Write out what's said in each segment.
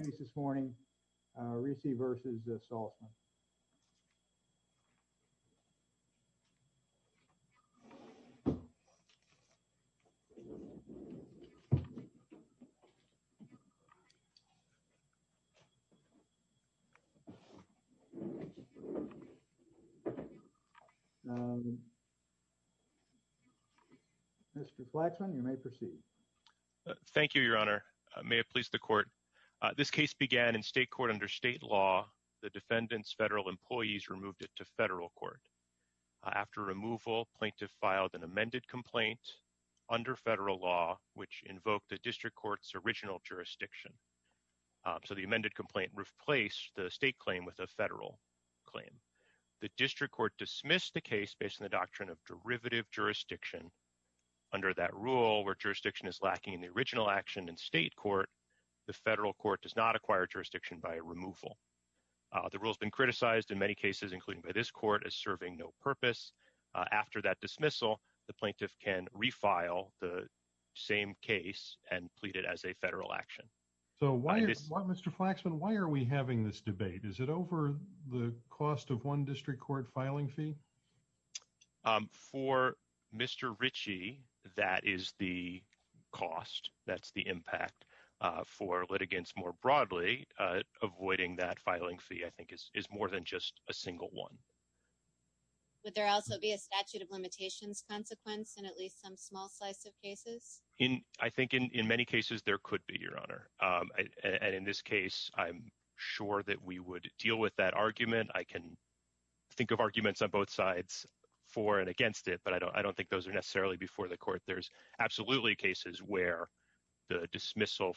Mr. Flaxman, you may proceed. Thank you, Your Honor. May it please the Court. This case began in state court under state law. The defendant's federal employees removed it to federal court. After removal, plaintiff filed an amended complaint under federal law, which invoked the district court's original jurisdiction. So the amended complaint replaced the state claim with a federal claim. The district court dismissed the case based on the doctrine of derivative jurisdiction. Under that rule, where jurisdiction is lacking in the original action in state court, the federal court does not acquire jurisdiction by removal. The rule has been criticized in many cases, including by this court, as serving no purpose. After that dismissal, the plaintiff can refile the same case and plead it as a federal action. So why, Mr. Flaxman, why are we having this debate? Is it over the cost of one district court filing fee? For Mr. Ritchie, that is the cost. That's the impact. For litigants more broadly, avoiding that filing fee, I think, is more than just a single one. Would there also be a statute of limitations consequence in at least some small slice of cases? I think in many cases, there could be, Your Honor. And in this case, I'm sure that we would deal with that argument. I can think of arguments on both sides for and against it, but I don't think those are necessarily before the court. There's absolutely cases where the dismissal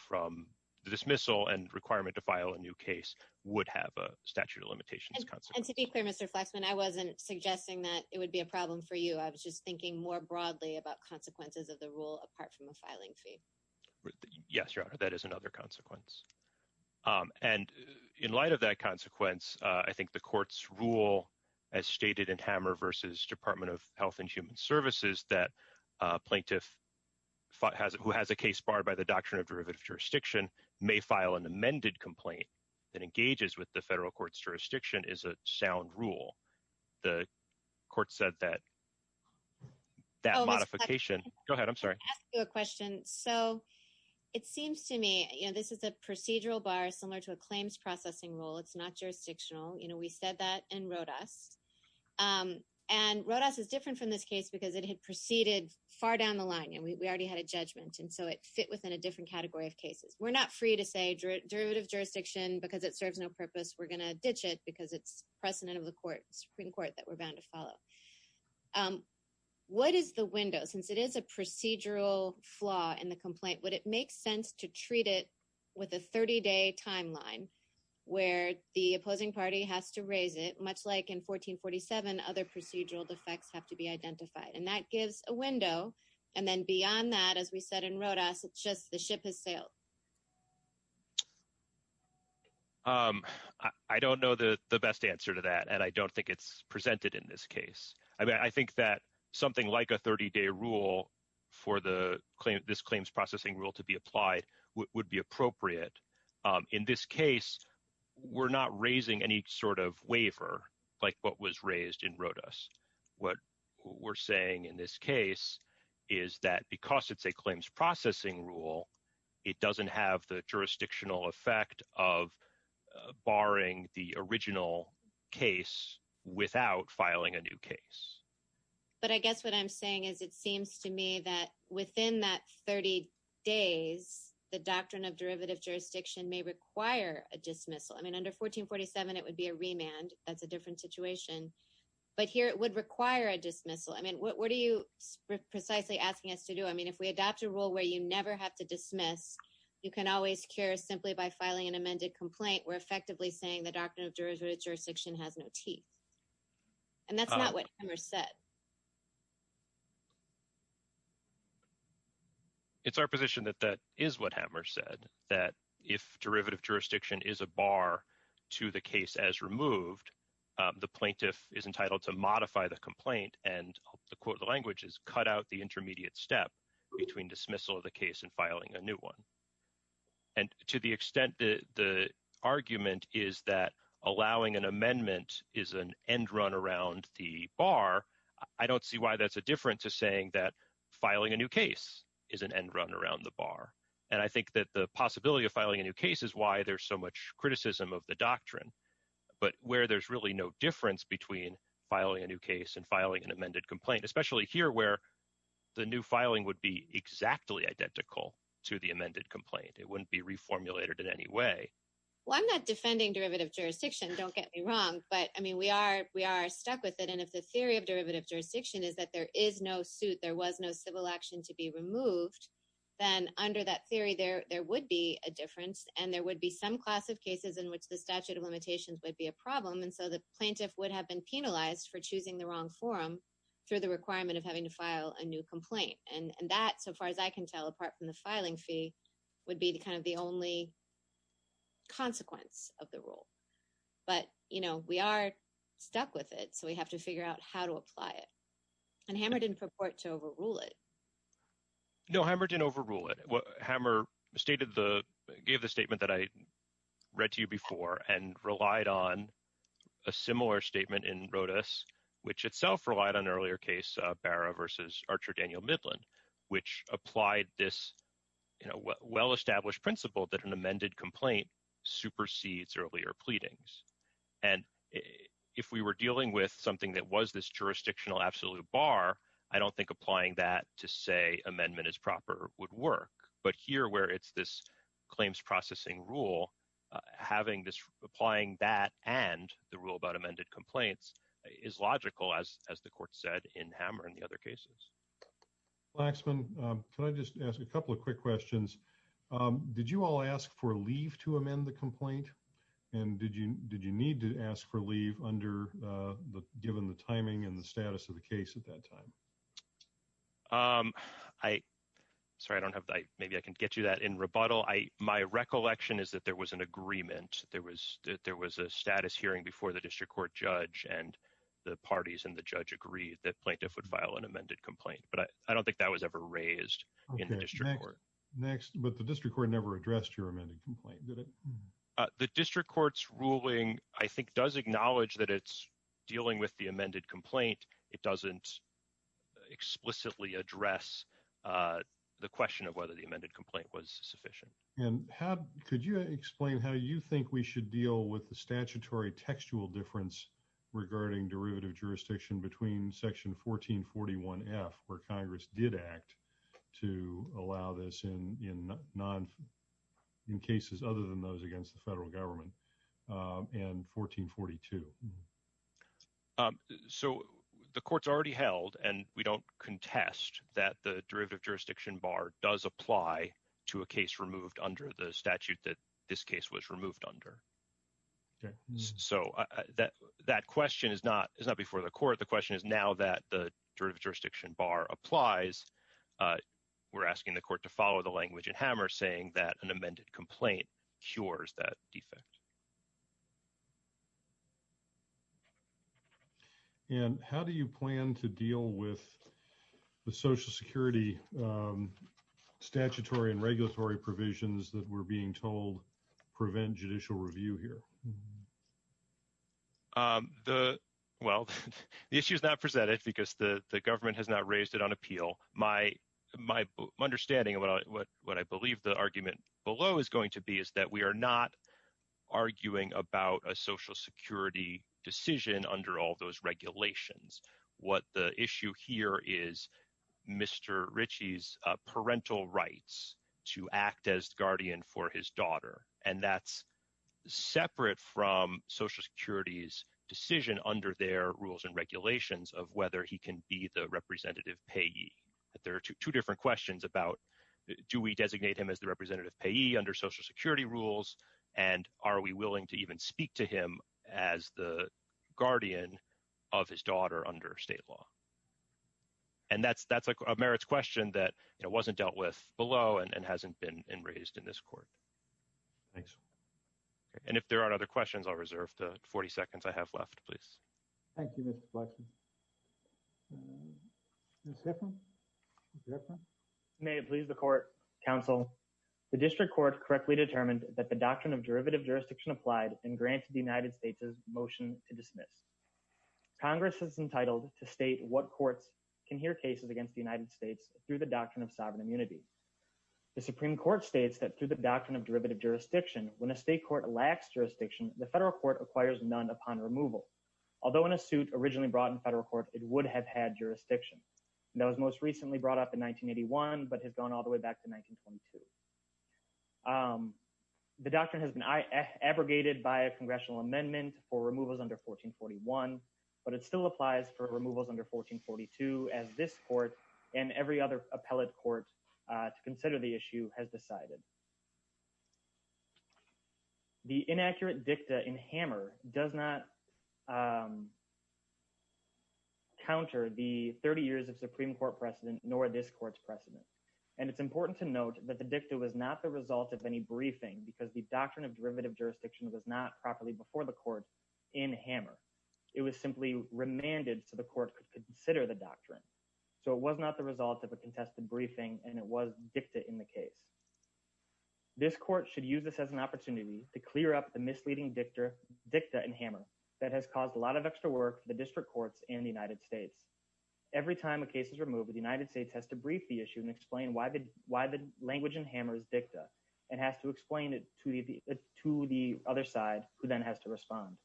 and requirement to file a new case would have a statute of limitations consequence. And to be clear, Mr. Flaxman, I wasn't suggesting that it would be a problem for you. I was just thinking more broadly about consequences of the rule apart from a filing fee. Yes, Your Honor, that is another consequence. And in light of that consequence, I think the court's rule, as stated in Hammer v. Department of Health and Human Services, that a plaintiff who has a case barred by the Doctrine of Derivative Jurisdiction may file an amended complaint that engages with the federal court's jurisdiction is a sound rule. The court said that that modification... Oh, Mr. Flaxman, can I ask you a question? So it seems to me, this is a procedural bar similar to a claims processing rule. It's not jurisdictional. We said that in Rodas. And Rodas is different from this case because it had proceeded far down the line, and we already had a judgment. And so it fit within a different category of cases. We're not free to say derivative jurisdiction because it serves no purpose. We're going to ditch it because it's precedent of the Supreme Court that we're bound to follow. What is the window? Since it is a procedural flaw in the complaint, would it make sense to treat it with a 30-day timeline where the opposing party has to raise it, much like in 1447, other procedural defects have to be identified? And that gives a window. And then beyond that, as we said in Rodas, it's just the ship has sailed. I don't know the best answer to that, and I don't think it's presented in this case. I think that something like a 30-day rule for this claims processing rule to be applied would be appropriate. In this case, we're not raising any sort of waiver like what was raised in Rodas. What we're saying in this case is that because it's a claims processing rule, it doesn't have the jurisdictional effect of barring the original case without filing a new case. But I guess what I'm saying is it seems to me that within that 30 days, the doctrine of derivative jurisdiction may require a dismissal. I mean, under 1447, it would be a remand. That's a different situation. But here it would require a dismissal. I mean, what are you precisely asking us to do? I mean, if we adopt a rule where you never have to dismiss, you can always cure simply by filing an amended complaint. We're effectively saying the doctrine of jurisdiction has no teeth. And that's not what Hammer said. It's our position that that is what Hammer said, that if derivative jurisdiction is a bar to the case as removed, the plaintiff is entitled to modify the complaint, and the quote of the language is cut out the intermediate step between dismissal of the case and filing a new one. And to the extent that the argument is that allowing an amendment is an end run around the bar, I don't see why that's a difference to saying that filing a new case is an end run around the bar. And I think that the possibility of filing a new case is why there's so much criticism of the doctrine. But where there's really no difference between filing a new case and filing an amended complaint, especially here where the new filing would be exactly identical to the amended complaint. It wouldn't be reformulated in any way. Well, I'm not defending derivative jurisdiction, don't get me wrong. But I mean, we are stuck with it. And if the theory of derivative jurisdiction is that there is no suit, there was no civil action to be removed, then under that theory, there would be a difference. And there would be some class of cases in which the statute of limitations would be a problem. And so the plaintiff would have been penalized for choosing the wrong forum through the requirement of having to file a new complaint. And that, so far as I can tell, apart from the filing fee, would be kind of the only consequence of the rule. But, you know, we are stuck with it. So we have to figure out how to apply it. And Hammer didn't purport to overrule it. No, Hammer didn't overrule it. Hammer gave the statement that I read to you before and relied on a similar statement in Rodas, which itself relied on earlier case Barra versus Archer Daniel Midland, which applied this, you know, well-established principle that an amended complaint supersedes earlier pleadings. And if we were dealing with something that was this jurisdictional absolute bar, I don't think applying that to say amendment is proper would work. But here where it's this claims processing rule, having this, applying that and the rule about amended complaints is logical as the court said in Hammer and the other cases. LAXMAN. Can I just ask a couple of quick questions? Did you all ask for leave to amend the complaint? And did you need to ask for leave under the, given the timing and the status of the case at that time? I, sorry, I don't have, maybe I can get you that in rebuttal. My recollection is that there was an agreement. There was a status hearing before the district court judge and the parties and the judge agreed that plaintiff would file an amended complaint. But I don't think that was ever raised in the district court. LAXMAN. Next, but the district court never addressed your amended complaint, did it? LAXMAN. The district court's ruling, I think, does acknowledge that it's dealing with the amended complaint. It doesn't explicitly address the question of whether the amended complaint was sufficient. LAXMAN. And how, could you explain how you think we should deal with the statutory textual difference regarding derivative jurisdiction between Section 1441F, where Congress did act to allow this in non, in cases other than those against the federal government, and 1442? LAXMAN. So the court's already held, and we don't contest that the derivative jurisdiction bar does apply to a case removed under the statute that this case was removed under. LAXMAN. So that question is not before the court. The question is now that the jurisdiction bar applies, we're asking the court to follow the language in Hammer saying that an amended complaint cures that defect. LAXMAN. And how do you plan to deal with the Social Security statutory and regulatory provisions that were being told prevent judicial review here? LAXMAN. The, well, the issue is not presented because the government has not raised it on appeal. My understanding of what I believe the argument below is going to be is that we are not arguing about a Social Security decision under all those regulations. What the issue here is Mr. Ritchie's parental rights to act as guardian for his daughter, and that's separate from Social Security's decision under their rules and regulations of whether he can be the representative payee. There are two different questions about, do we designate him as the representative payee under Social Security rules? And are we willing to even speak to him as the guardian of his daughter under state law? And that's a merits question that wasn't dealt with below, and hasn't been raised in this court. Thanks. And if there aren't other questions, I'll reserve the 40 seconds I have left, please. Thank you, Mr. Laxman. May it please the court, counsel. The district court correctly determined that the doctrine of derivative jurisdiction applied and granted the United States' motion to dismiss. Congress is entitled to state what courts can hear cases against the United States through the doctrine of sovereign immunity. The Supreme Court states that through the doctrine of derivative jurisdiction, when a state court lacks jurisdiction, the federal court acquires none upon removal. Although in a suit originally brought in federal court, it would have had jurisdiction. And that was most recently brought up in 1981, but has gone all the way back to 1922. The doctrine has been abrogated by a congressional amendment for removals under 1441, but it still applies for removals under 1442 as this court and every other appellate court to consider the issue has decided. The inaccurate dicta in Hammer does not counter the 30 years of Supreme Court precedent nor this court's precedent. And it's important to note that the dicta was not the result of any briefing because the doctrine of derivative jurisdiction was not properly before the court in Hammer. It was simply remanded So it was not the result of a contested briefing and it was dicta in the case. This court should use this as an opportunity to clear up the misleading dicta in Hammer that has caused a lot of extra work for the district courts and the United States. Every time a case is removed, the United States has to brief the issue and explain why the language in Hammer is dicta and has to explain it to the other side who then has to respond.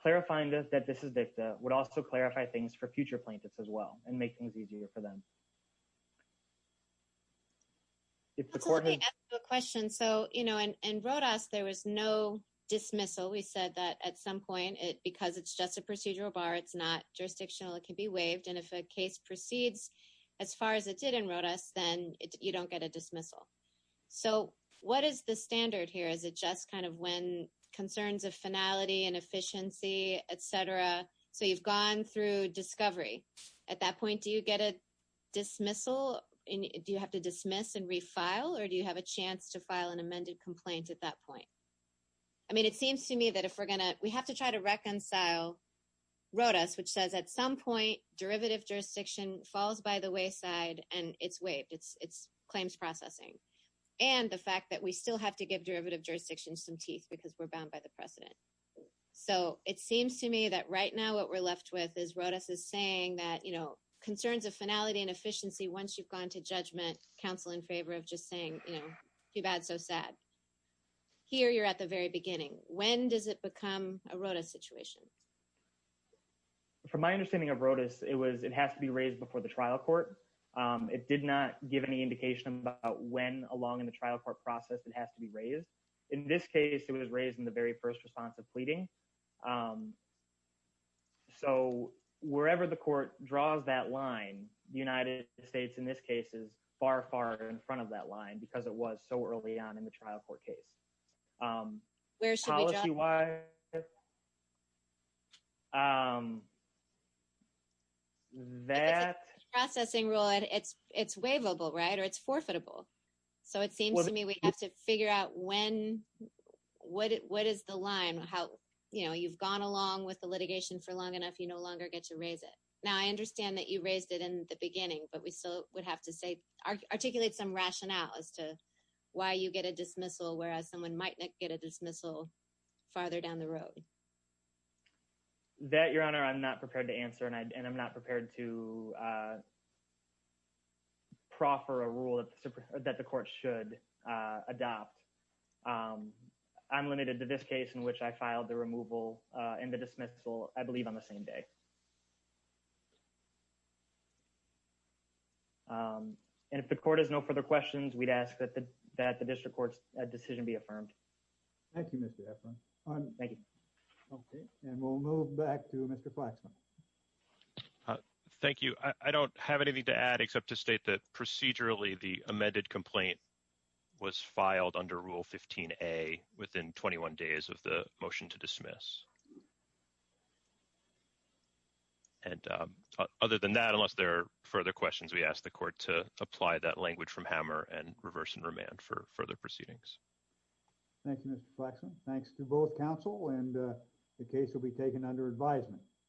Clarifying that this is dicta would also clarify things for future plaintiffs as well and make things easier for them. If the court has... Let me ask you a question. So in Rodas, there was no dismissal. We said that at some point, because it's just a procedural bar, it's not jurisdictional, it can be waived. And if a case proceeds as far as it did in Rodas, then you don't get a dismissal. So what is the standard here? Is it just kind of when concerns of finality and efficiency, et cetera, so you've gone through discovery. At that point, do you get a dismissal? Do you have to dismiss and refile? Or do you have a chance to file an amended complaint at that point? I mean, it seems to me that if we're gonna... We have to try to reconcile Rodas, which says at some point, derivative jurisdiction falls by the wayside and it's waived, it's claims processing. And the fact that we still have to give derivative jurisdictions some teeth because we're bound by the precedent. So it seems to me that right now, what we're left with is Rodas is saying, concerns of finality and efficiency, once you've gone to judgment, counsel in favor of just saying, too bad, so sad. Here, you're at the very beginning. When does it become a Rodas situation? From my understanding of Rodas, it has to be raised before the trial court. It did not give any indication about when along in the trial court process, it has to be raised. In this case, it was raised in the very first response of pleading. So wherever the court draws that line, the United States in this case is far, far in front of that line because it was so early on in the trial court case. Where should we draw the line? Policy-wise, that... If it's a processing rule, it's waivable, right? Or it's forfeitable. when, what is the line? How, what is the line? You've gone along with the litigation for long enough. You no longer get to raise it. Now, I understand that you raised it in the beginning, but we still would have to say, articulate some rationale as to why you get a dismissal, whereas someone might not get a dismissal farther down the road. That, Your Honor, I'm not prepared to answer. And I'm not prepared to proffer a rule that the court should adopt. I'm limited to this case in which I filed the removal and the dismissal, I believe on the same day. And if the court has no further questions, we'd ask that the district court's decision be affirmed. Thank you, Mr. Efron. Thank you. Okay. And we'll move back to Mr. Flaxman. Thank you. I don't have anything to add except to state that procedurally, the amended complaint was filed under Rule 15A within 21 days of the motion to dismiss. And other than that, unless there are further questions, we ask the court to apply that language from Hammer and reverse and remand for further proceedings. Thank you, Mr. Flaxman. Thanks to both counsel and the case will be taken under advisement.